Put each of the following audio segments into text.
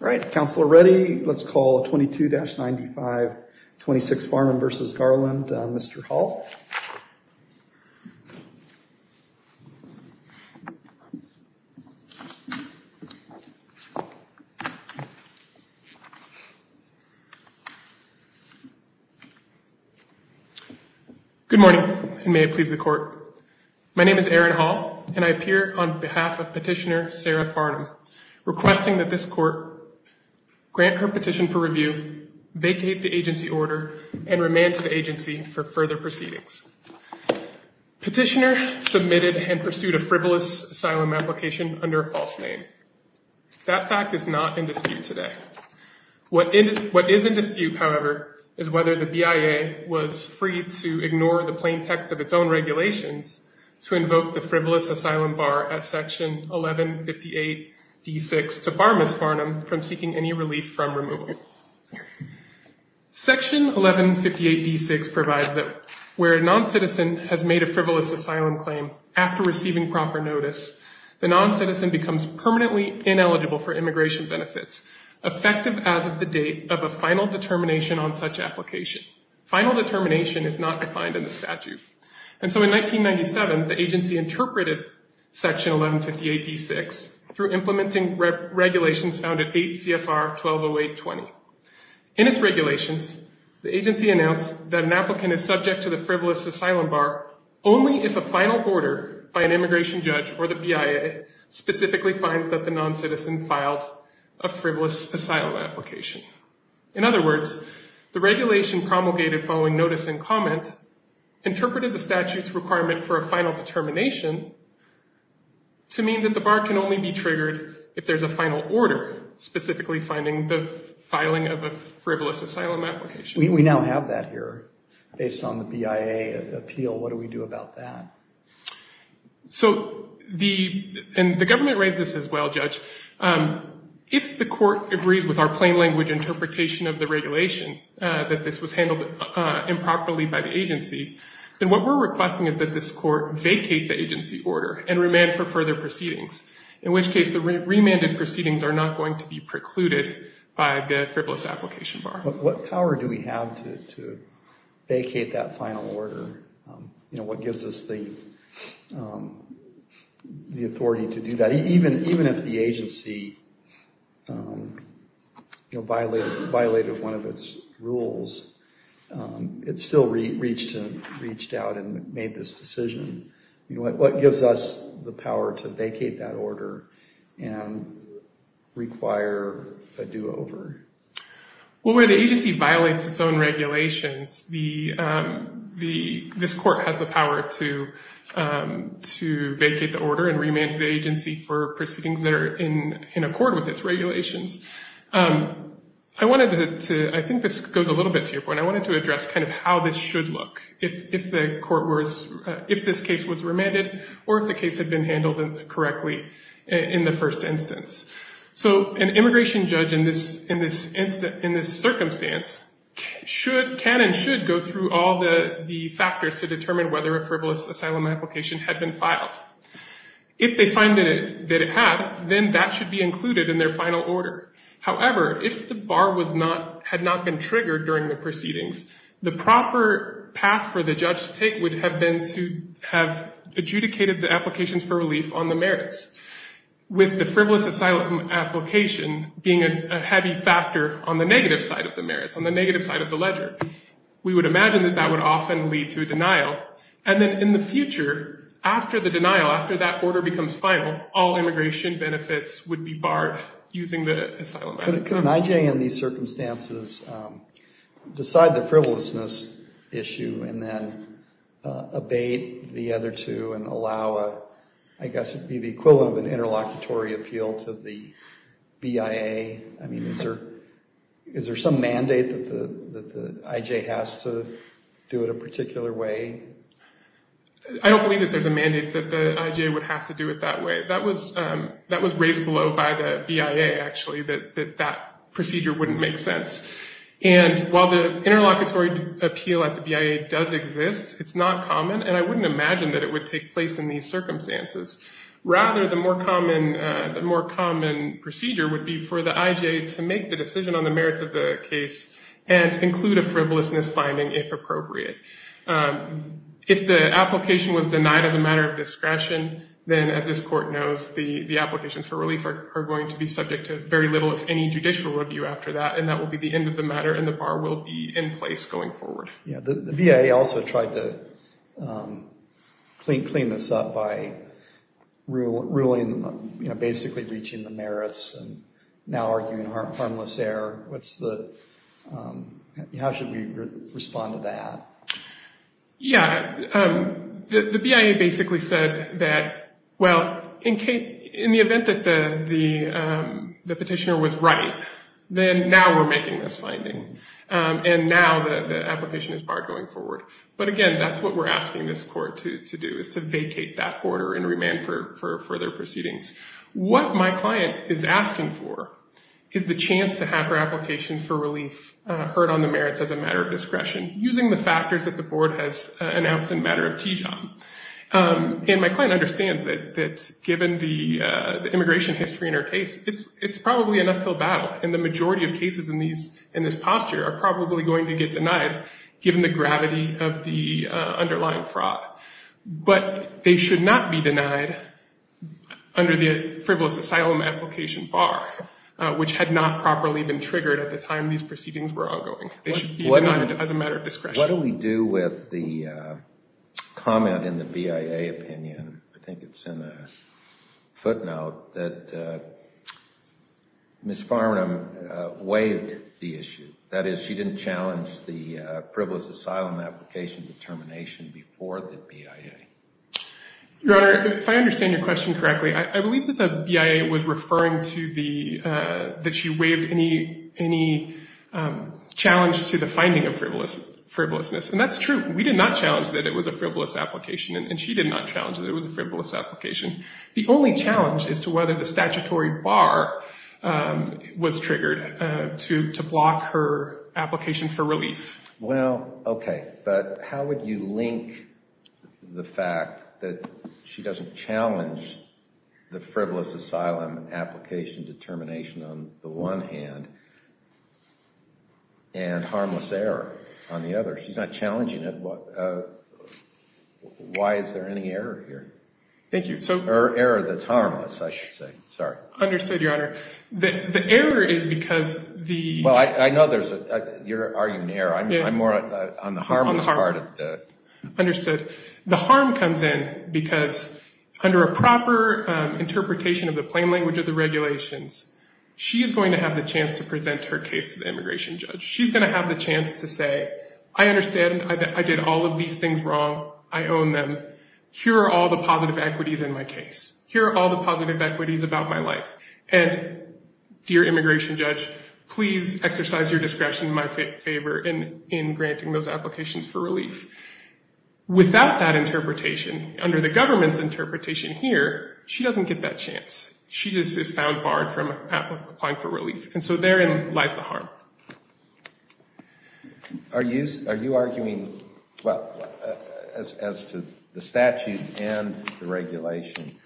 All right, if council are ready, let's call 22-9526 Farnum v. Garland, Mr. Hall. Good morning and may it please the court. My name is Aaron Hall and I appear on this court to grant her petition for review, vacate the agency order, and remand to the agency for further proceedings. Petitioner submitted and pursued a frivolous asylum application under a false name. That fact is not in dispute today. What is in dispute, however, is whether the BIA was free to ignore the plain text of its own regulations to invoke the frivolous to bar Ms. Farnum from seeking any relief from removal. Section 1158d6 provides that where a non-citizen has made a frivolous asylum claim after receiving proper notice, the non-citizen becomes permanently ineligible for immigration benefits, effective as of the date of a final determination on such application. Final determination is not defined in the statute. And so in 1997, the agency interpreted section 1158d6 through implementing regulations found at 8 CFR 120820. In its regulations, the agency announced that an applicant is subject to the frivolous asylum bar only if a final order by an immigration judge or the BIA specifically finds that the non-citizen filed a frivolous asylum application. In other words, the regulation promulgated following notice and comment interpreted the statute's requirement for a final determination to mean that the bar can only be triggered if there's a final order, specifically finding the filing of a frivolous asylum application. We now have that here based on the BIA appeal. What do we do about that? So the, and the government raised this as well, Judge. If the court agrees with our plain language interpretation of the regulation that this was handled improperly by the agency, then what we're requesting is that this court vacate the agency order and remand for further proceedings, in which case the remanded proceedings are not going to be precluded by the frivolous application bar. What power do we have to vacate that final order? You know, what gives us the, the authority to do that? Even, even if the agency, you know, violated, violated one of its rules, it still reached, reached out and made this decision. You know, what, what gives us the power to vacate that order and require a do-over? Well, where the agency violates its own regulations, the, the, this court has the power to, to vacate the order and remand to the agency for proceedings that are in, in accord with its regulations. I wanted to, I think this goes a little bit to your point, I wanted to address kind of how this should look if, if the court was, if this case was remanded or if the case had been handled correctly in the first instance. So an immigration judge in this, in this instance, in this circumstance should, can and should go through all the, the factors to determine whether a frivolous asylum application had been filed. If they find that it, that it had, then that should be included in their final order. However, if the bar was not, had not been triggered during the proceedings, the proper path for the judge to take would have been to have adjudicated the applications for relief on the merits with the frivolous asylum application being a heavy factor on the negative side of the merits, on the negative side of the ledger. We would imagine that that would often lead to a denial. And then in the future, after the denial, after that order becomes final, all immigration benefits would be barred using the asylum. Can IJ in these circumstances decide the frivolousness issue and then abate the other two and allow a, I guess it'd be the equivalent of an interlocutory appeal to the BIA? I mean, is there, is there some mandate that the, that the IJ has to do it a particular way? I don't believe that there's a mandate that the IJ would have to do it that way. That was, that was raised below by the BIA, actually, that, that that procedure wouldn't make sense. And while the interlocutory appeal at the BIA does exist, it's not common. And I wouldn't imagine that it would take place in these circumstances. Rather, the more common, the more common procedure would be for the IJ to make the decision on the merits of the case and include a frivolousness finding, if appropriate. If the application was denied as a matter of discretion, then as this court knows, the, the applications for relief are going to be subject to very little, if any, judicial review after that. And that will be the end of the matter and the bar will be in place going forward. Yeah. The BIA also tried to clean this up by ruling, you know, basically breaching the merits and now arguing harmless error. What's the, how should we respond to that? Yeah. The, the BIA basically said that, well, in case, in the event that the, the, the petitioner was right, then now we're making this finding. And now the, the application is barred going forward. But again, that's what we're asking this court to, to do is to vacate that order and remand for, for further proceedings. What my client is asking for is the chance to have her application for relief, heard on the merits as a matter of discretion, using the factors that the board has announced in matter of Tijon. And my client understands that, that given the, the immigration history in her case, it's, it's probably an uphill battle. And the majority of cases in these, in this posture are probably going to get denied given the gravity of the underlying fraud, but they should not be denied under the frivolous asylum application bar, which had not properly been triggered at the time these proceedings were ongoing. They should be denied as a matter of discretion. What do we do with the comment in the BIA opinion? I think it's in a footnote that Ms. Farnham waived the issue. That is, she didn't challenge the frivolous asylum application determination before the BIA. Your Honor, if I understand your question correctly, I believe that the BIA was referring to the, that she waived any, any challenge to the finding of frivolous, frivolousness. And that's true. We did not challenge that it was a frivolous application and she did not challenge that it was a frivolous application. The only challenge is to whether the statutory bar was triggered to, to block her applications for relief. Well, okay. But how would you link the fact that she doesn't challenge the frivolous asylum application determination on the one hand and harmless error on the other? She's not challenging it. Why is there any error here? Thank you. So... Error that's harmless, I should say. Sorry. Understood, Your Honor. The error is because the... Well, I know there's a, you're arguing error. I'm more on the harmless part of the... Understood. The harm comes in because under a proper interpretation of the plain language of the regulations, she is going to have the chance to present her case to the immigration judge. She's going to have the chance to say, I understand. I did all of these things wrong. I own them. Here are all positive equities in my case. Here are all the positive equities about my life. And dear immigration judge, please exercise your discretion in my favor in granting those applications for relief. Without that interpretation, under the government's interpretation here, she doesn't get that chance. She just is found barred from applying for relief. And so therein lies the harm. Are you... Are you arguing... Well, as to the statute and the regulation,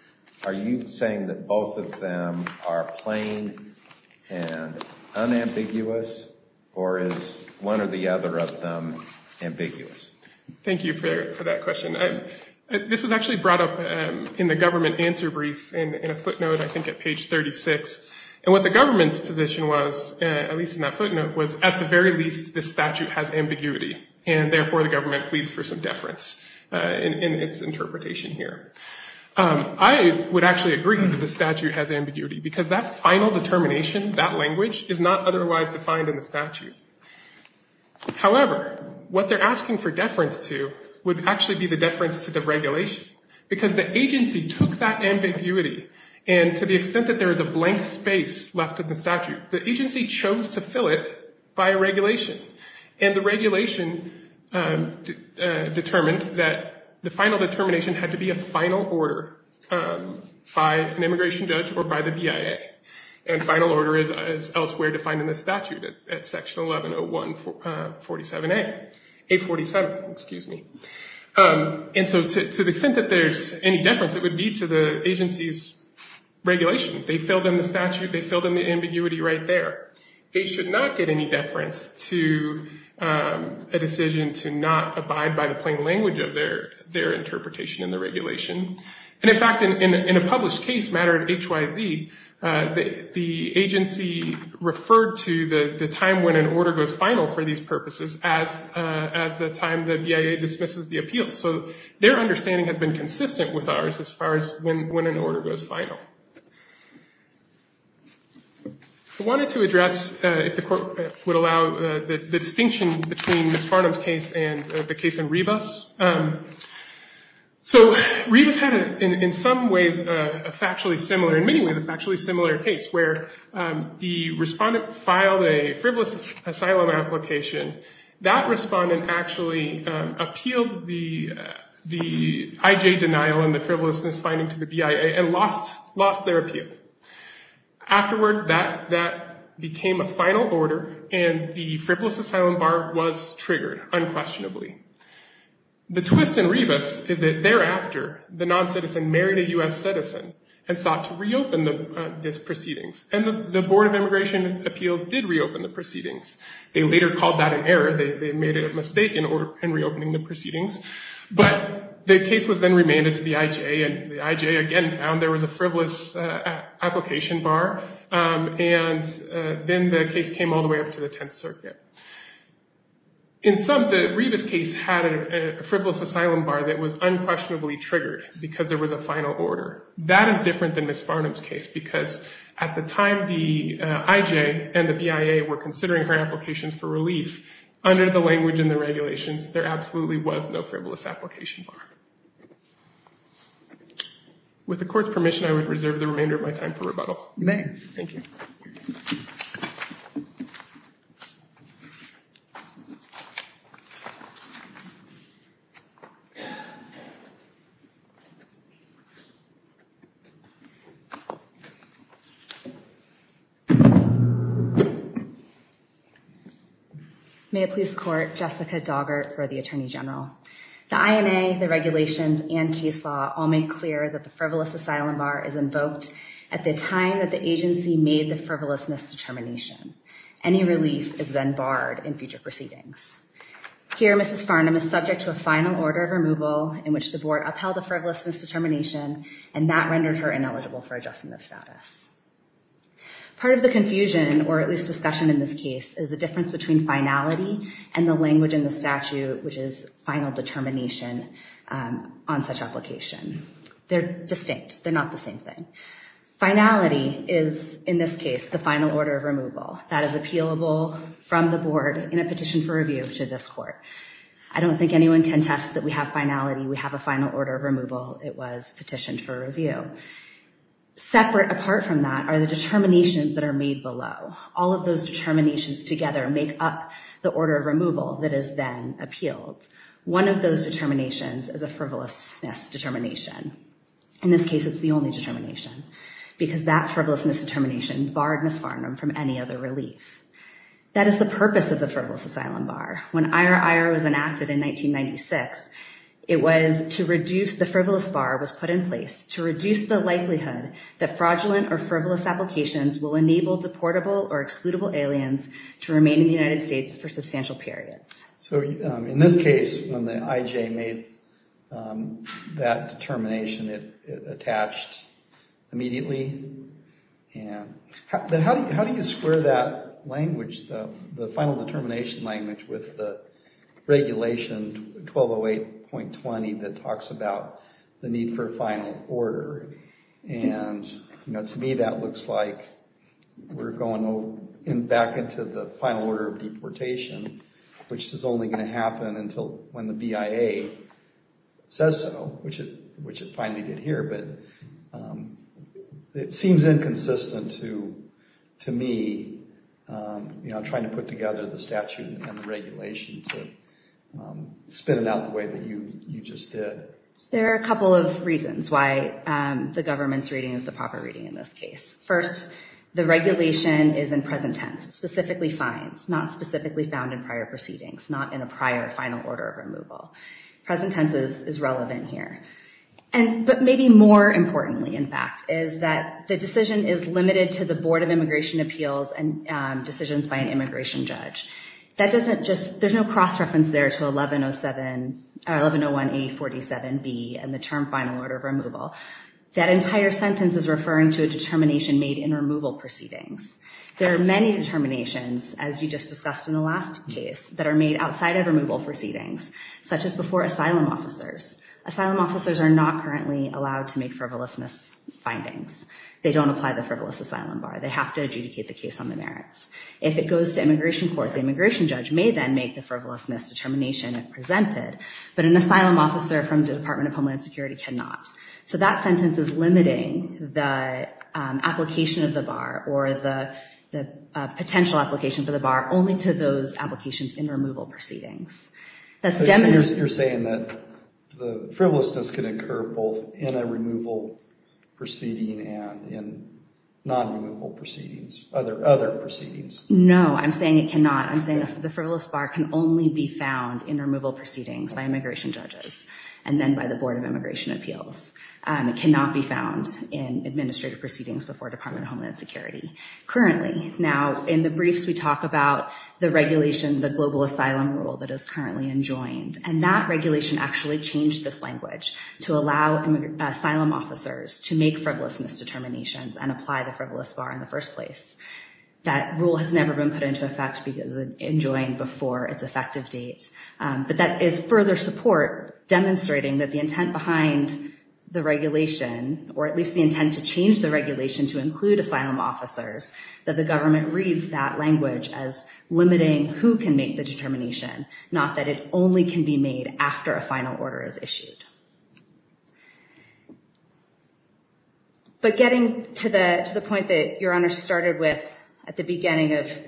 are you saying that both of them are plain and unambiguous, or is one or the other of them ambiguous? Thank you for that question. This was actually brought up in the government answer brief in a footnote, I think at page 36. And what the government's position was, at least in that was, at the very least, the statute has ambiguity. And therefore, the government pleads for some deference in its interpretation here. I would actually agree that the statute has ambiguity, because that final determination, that language, is not otherwise defined in the statute. However, what they're asking for deference to would actually be the deference to the regulation, because the agency took that ambiguity. And to the extent that there is a blank space left in the statute, the agency chose to fill it by a regulation. And the regulation determined that the final determination had to be a final order by an immigration judge or by the BIA. And final order is elsewhere defined in the statute at section 1101-47A... 847, excuse me. And so to the extent that there's any deference, it would be to the agency's regulation. They filled in the statute. They filled in the ambiguity right there. They should not get any deference to a decision to not abide by the plain language of their interpretation in the regulation. And in fact, in a published case matter at HYZ, the agency referred to the time when an order goes final for these purposes as the time the BIA dismisses the appeal. So their understanding has been consistent with ours as far as when an order goes final. I wanted to address, if the Court would allow, the distinction between Ms. Farnam's case and the case in Rebus. So Rebus had in some ways a factually similar, in many ways a factually similar case, where the respondent filed a frivolous asylum application. That respondent actually appealed the IJ denial and the frivolousness finding to the BIA and lost their appeal. Afterwards, that became a final order and the frivolous asylum bar was triggered unquestionably. The twist in Rebus is that thereafter, the non-citizen married a U.S. citizen and sought to reopen the proceedings. And the Board of Immigration Appeals did reopen the proceedings. But the case was then remanded to the IJ and the IJ again found there was a frivolous application bar. And then the case came all the way up to the Tenth Circuit. In some, the Rebus case had a frivolous asylum bar that was unquestionably triggered because there was a final order. That is different than Ms. Farnam's case because at the time, the IJ and the BIA were considering her applications for relief under the language and the regulations. There absolutely was no frivolous application bar. With the Court's permission, I would reserve the remainder of my time for rebuttal. You may. Thank you. May it please the Court, Jessica Daugert for the Attorney General. The INA, the regulations, and case law all make clear that the frivolous asylum bar is invoked at the time that the agency made the frivolousness determination. Any relief is then barred in future proceedings. Here, Mrs. Farnam is subject to a final order of removal in which the Board upheld a frivolousness determination and that rendered her ineligible for adjustment of status. Part of the confusion, or at least discussion in this case, is the difference between finality and the language in the statute, which is final determination on such application. They're distinct. They're not the same thing. Finality is, in this case, the final order of removal that is appealable from the Board in a petition for review to this Court. I don't think anyone can test that we have finality. We have a final order of removal. It was the determinations that are made below. All of those determinations together make up the order of removal that is then appealed. One of those determinations is a frivolousness determination. In this case, it's the only determination because that frivolousness determination barred Mrs. Farnam from any other relief. That is the purpose of the frivolous asylum bar. When IRIR was enacted in 1996, the frivolous bar was put in place to reduce the likelihood that fraudulent or frivolous applications will enable deportable or excludable aliens to remain in the United States for substantial periods. So, in this case, when the IJ made that determination, it attached immediately. How do you square that language, the final determination language, with the 1208.20 that talks about the need for a final order? To me, that looks like we're going back into the final order of deportation, which is only going to happen until when the BIA says so, which it finally did here. It seems inconsistent to me trying to put together the regulation to spin it out the way that you just did. There are a couple of reasons why the government's reading is the proper reading in this case. First, the regulation is in present tense, specifically fines, not specifically found in prior proceedings, not in a prior final order of removal. Present tense is relevant here. But maybe more importantly, in fact, is that the decision is limited to the Board of Immigration Appeals and decisions by an immigration judge. There's no cross-reference there to 1101A47B and the term final order of removal. That entire sentence is referring to a determination made in removal proceedings. There are many determinations, as you just discussed in the last case, that are made outside of removal proceedings, such as before asylum officers. Asylum officers are not currently allowed to make frivolousness findings. They don't apply the frivolous asylum bar. They have to adjudicate the case on the merits. If it goes to immigration court, the immigration judge may then make the frivolousness determination if presented, but an asylum officer from the Department of Homeland Security cannot. So that sentence is limiting the application of the bar or the potential application for the bar only to those applications in removal proceedings. You're saying that the frivolousness can occur both in a removal proceeding and in non-removal proceedings, other proceedings. No, I'm saying it cannot. I'm saying the frivolous bar can only be found in removal proceedings by immigration judges and then by the Board of Immigration Appeals. It cannot be found in administrative proceedings before Department of Homeland Security currently. Now, in the briefs, we talk about the regulation, the global asylum rule that is currently enjoined, and that regulation actually changed this language to allow asylum officers to make frivolousness determinations and apply the frivolous bar in the first place. That rule has never been put into effect because it's enjoined before its effective date, but that is further support demonstrating that the intent behind the regulation, or at least the intent to change the regulation to include asylum officers, that the government reads that language as limiting who can make the determination, not that it only can be made after a final order is issued. But getting to the point that Your Honor started with at the beginning of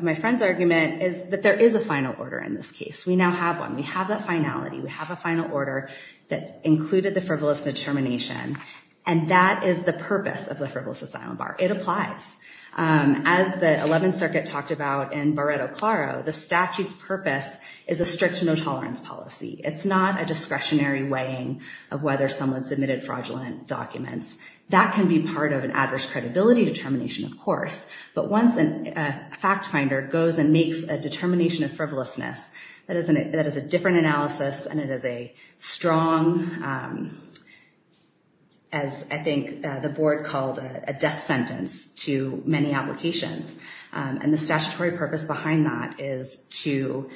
my friend's argument is that there is a final order in this case. We now have one. We have that finality. We have a final order that included the frivolous determination, and that is the purpose of the frivolous asylum bar. It applies. As the 11th Circuit talked about in Barretto-Claro, the statute's purpose is a strict no-tolerance policy. It's not a discretionary weighing of whether someone submitted fraudulent documents. That can be part of an adverse credibility determination, of course, but once a fact finder goes and makes a determination of frivolousness that is a different analysis, and it is a strong, as I think the board called it, a death sentence to many applications, and the statutory purpose behind that is to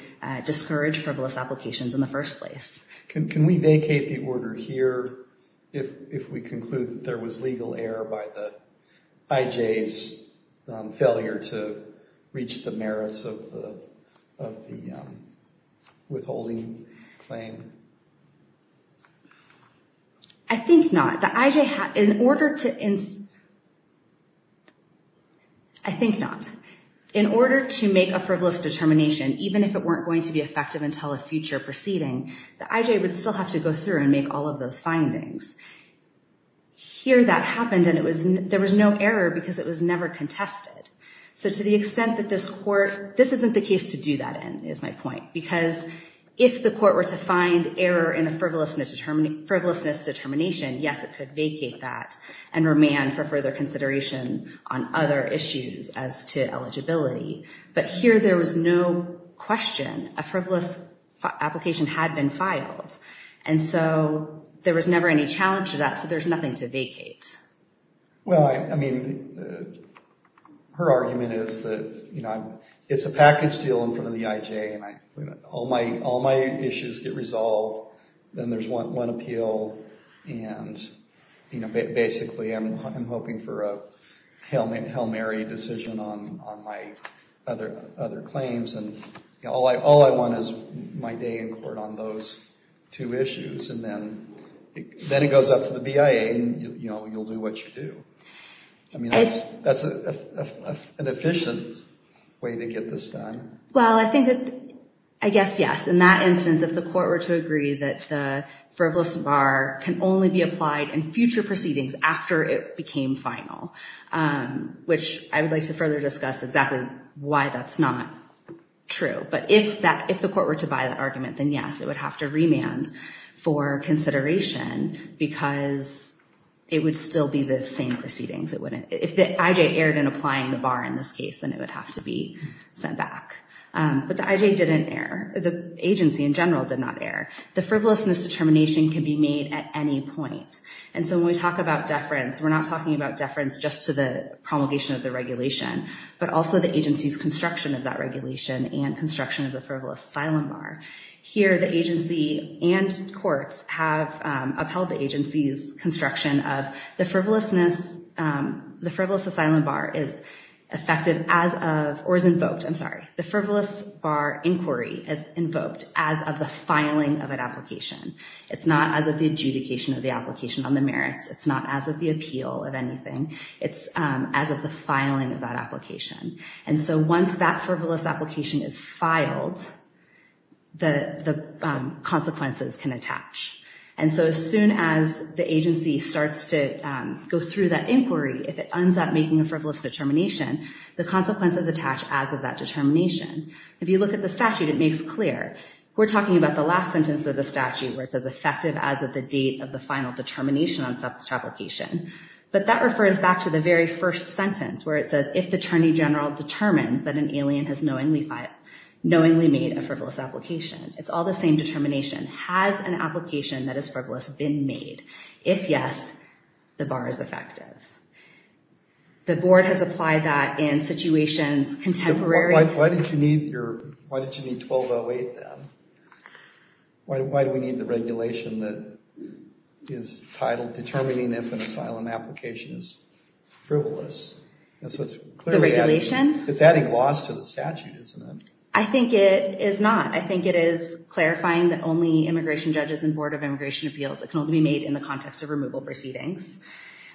discourage frivolous applications in the first place. Can we vacate the order here if we conclude that there was legal error by the failure to reach the merits of the withholding claim? I think not. In order to make a frivolous determination, even if it weren't going to be effective until a future proceeding, the IJ would still have to go through and make all of those findings. Here that happened, and there was no error because it was never contested. So to the extent that this court—this isn't the case to do that in, is my point, because if the court were to find error in a frivolousness determination, yes, it could vacate that and remand for further consideration on other issues as to eligibility, but here there was no question. A frivolous application had been filed, and so there was never any challenge to that, so there's nothing to vacate. Well, I mean, her argument is that, you know, it's a package deal in front of the IJ, and all my issues get resolved, then there's one appeal, and, you know, basically I'm hoping for a Hail Mary decision on my other claims, and all I want is my day in court on those two issues, and then it goes up to the BIA, and, you know, you'll do what you do. I mean, that's an efficient way to get this done. Well, I think that—I guess, yes, in that after it became final, which I would like to further discuss exactly why that's not true, but if the court were to buy that argument, then yes, it would have to remand for consideration because it would still be the same proceedings. If the IJ erred in applying the bar in this case, then it would have to be sent back, but the IJ didn't err. The agency in general did not err. The frivolousness determination can be made at any point, and so when we talk about deference, we're not talking about deference just to the promulgation of the regulation, but also the agency's construction of that regulation and construction of the frivolous asylum bar. Here, the agency and courts have upheld the agency's construction of the frivolousness. The frivolous asylum bar is effective as of—or is invoked, I'm sorry. The frivolous bar inquiry is invoked as of the filing of an application. It's not as of the adjudication of the application on the merits. It's not as of the appeal of anything. It's as of the filing of that application, and so once that frivolous application is filed, the consequences can attach, and so as soon as the agency starts to go through that inquiry, if it ends up making a frivolous determination, the consequences attach as of that determination. If you look at the statute, it makes clear. We're talking about the last sentence of the statute where it says effective as of the date of the final determination on such application, but that refers back to the very first sentence where it says if the attorney general determines that an alien has knowingly made a frivolous application, it's all the same determination. Has an application that is frivolous been made? If yes, the bar is effective. The board has applied that in situations contemporary— Why did you need your—why did you need 1208 then? Why do we need the regulation that is titled determining if an asylum application is frivolous? That's what's clearly— The regulation? It's adding loss to the statute, isn't it? I think it is not. I think it is clarifying that only immigration judges and board of attorneys can make decisions in the context of removal proceedings.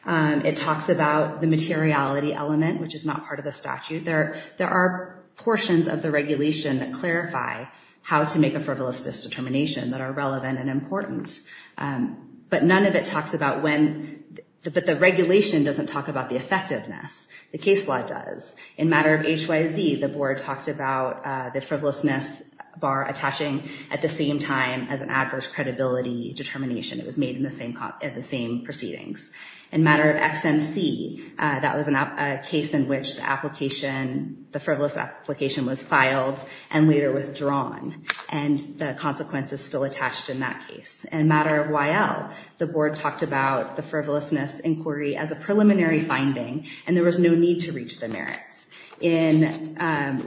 It talks about the materiality element, which is not part of the statute. There are portions of the regulation that clarify how to make a frivolous determination that are relevant and important, but none of it talks about when—but the regulation doesn't talk about the effectiveness. The case law does. In matter of HYZ, the board talked about the frivolousness bar attaching at the same time as an adverse credibility determination. It was made in the same—at the same proceedings. In matter of XMC, that was a case in which the application—the frivolous application was filed and later withdrawn, and the consequences still attached in that case. In matter of YL, the board talked about the frivolousness inquiry as a preliminary finding, and there was no need to reach the merits. In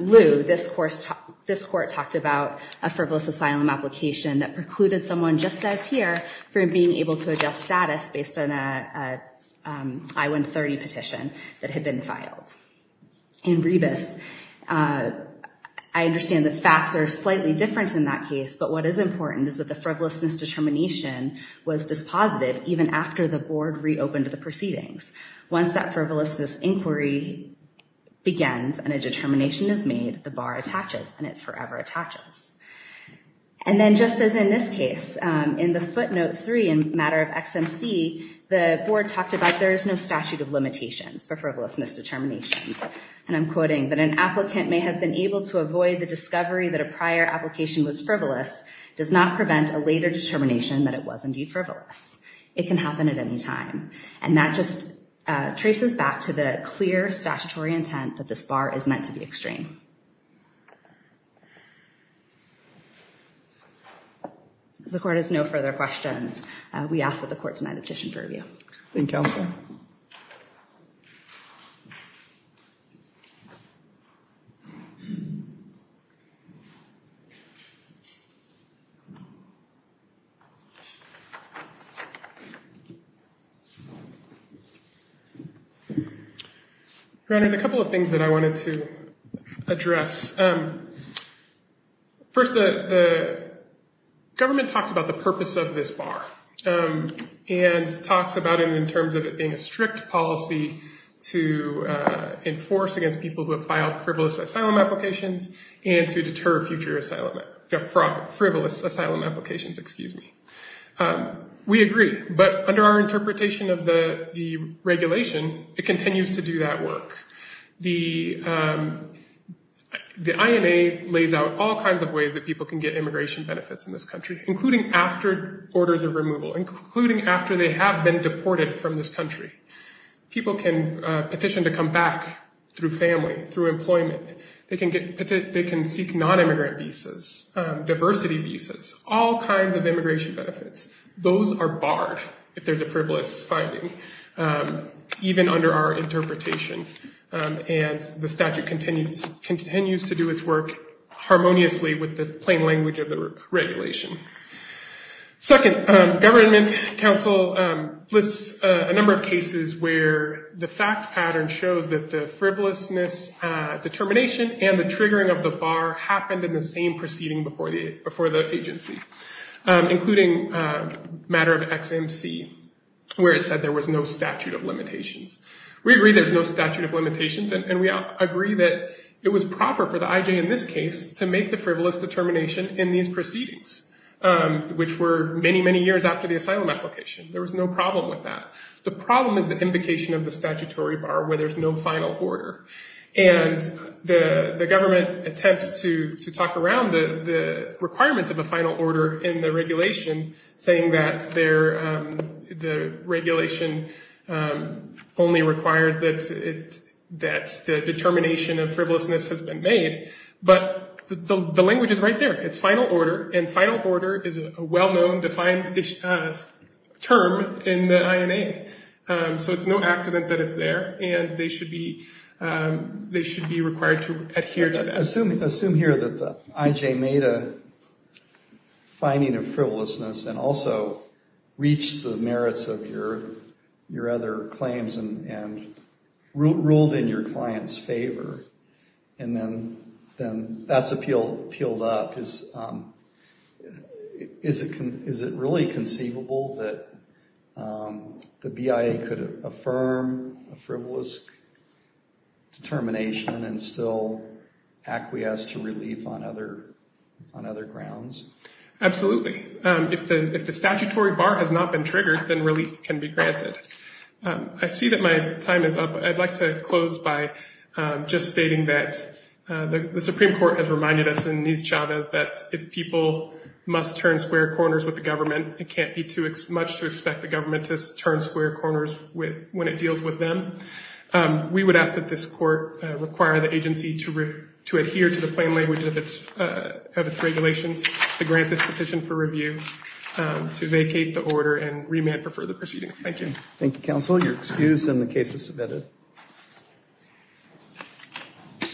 Lew, this court talked about a frivolous asylum application that precluded someone, just as here, from being able to adjust status based on a I-130 petition that had been filed. In Rebus, I understand the facts are slightly different in that case, but what is important is that the frivolousness determination was dispositive even after the board reopened the proceedings. Once that frivolousness inquiry begins and a determination is made, the bar attaches, and it forever attaches. And then just as in this case, in the footnote three in matter of XMC, the board talked about there is no statute of limitations for frivolousness determinations, and I'm quoting, that an applicant may have been able to avoid the discovery that a prior application was frivolous does not prevent a later determination that it was indeed frivolous. It can happen at any time, and that just traces back to the clear statutory intent that this bar is meant to be extreme. The court has no further questions. We ask that the court to address. First, the government talks about the purpose of this bar, and talks about it in terms of it being a strict policy to enforce against people who have filed frivolous asylum applications and to deter future frivolous asylum applications. We agree, but under our interpretation of the regulation, it continues to do that work. The INA lays out all kinds of ways that people can get immigration benefits in this country, including after orders of removal, including after they have been deported from this country. People can petition to come back through family, through employment. They can seek non-immigrant visas, diversity visas, all kinds of immigration benefits. Those are barred if there's a frivolous filing, even under our interpretation, and the statute continues to do its work harmoniously with the plain language of the regulation. Second, government counsel lists a number of cases where the fact pattern shows that the frivolousness determination and the triggering of the bar happened in the same proceeding before the agency, including a matter of XMC, where it said there was no statute of limitations. We agree there's no statute of limitations, and we agree that it was proper for the IJ in this case to make the frivolous determination in these proceedings, which were many, many years after the asylum application. There was no problem with that. The problem is the invocation of the statutory bar where there's no final order, and the government attempts to talk around the requirements of a final order in the regulation, saying that the regulation only requires that the determination of frivolousness has been made, but the language is right there. It's final order, and final order is a well-known, defined term in the INA, so it's no accident that it's there, and they should be required to adhere to that. Assume here that the IJ made a finding of frivolousness and also reached the merits of your other claims and ruled in your client's favor, and then that's appealed up. Is it really conceivable that the BIA could affirm a frivolous determination and still acquiesce to relief on other grounds? Absolutely. If the statutory bar has not been triggered, then relief can be granted. I see that my time is up. I'd like to close by just stating that the Supreme Court has reminded us in these chavas that if people must turn square corners with the government, it can't be too much to expect the government to turn square corners when it deals with them. We would ask that this court require the agency to adhere to the plain language of its regulations, to grant this petition for review, to vacate the order, and remand for further proceedings. Thank you. Thank you,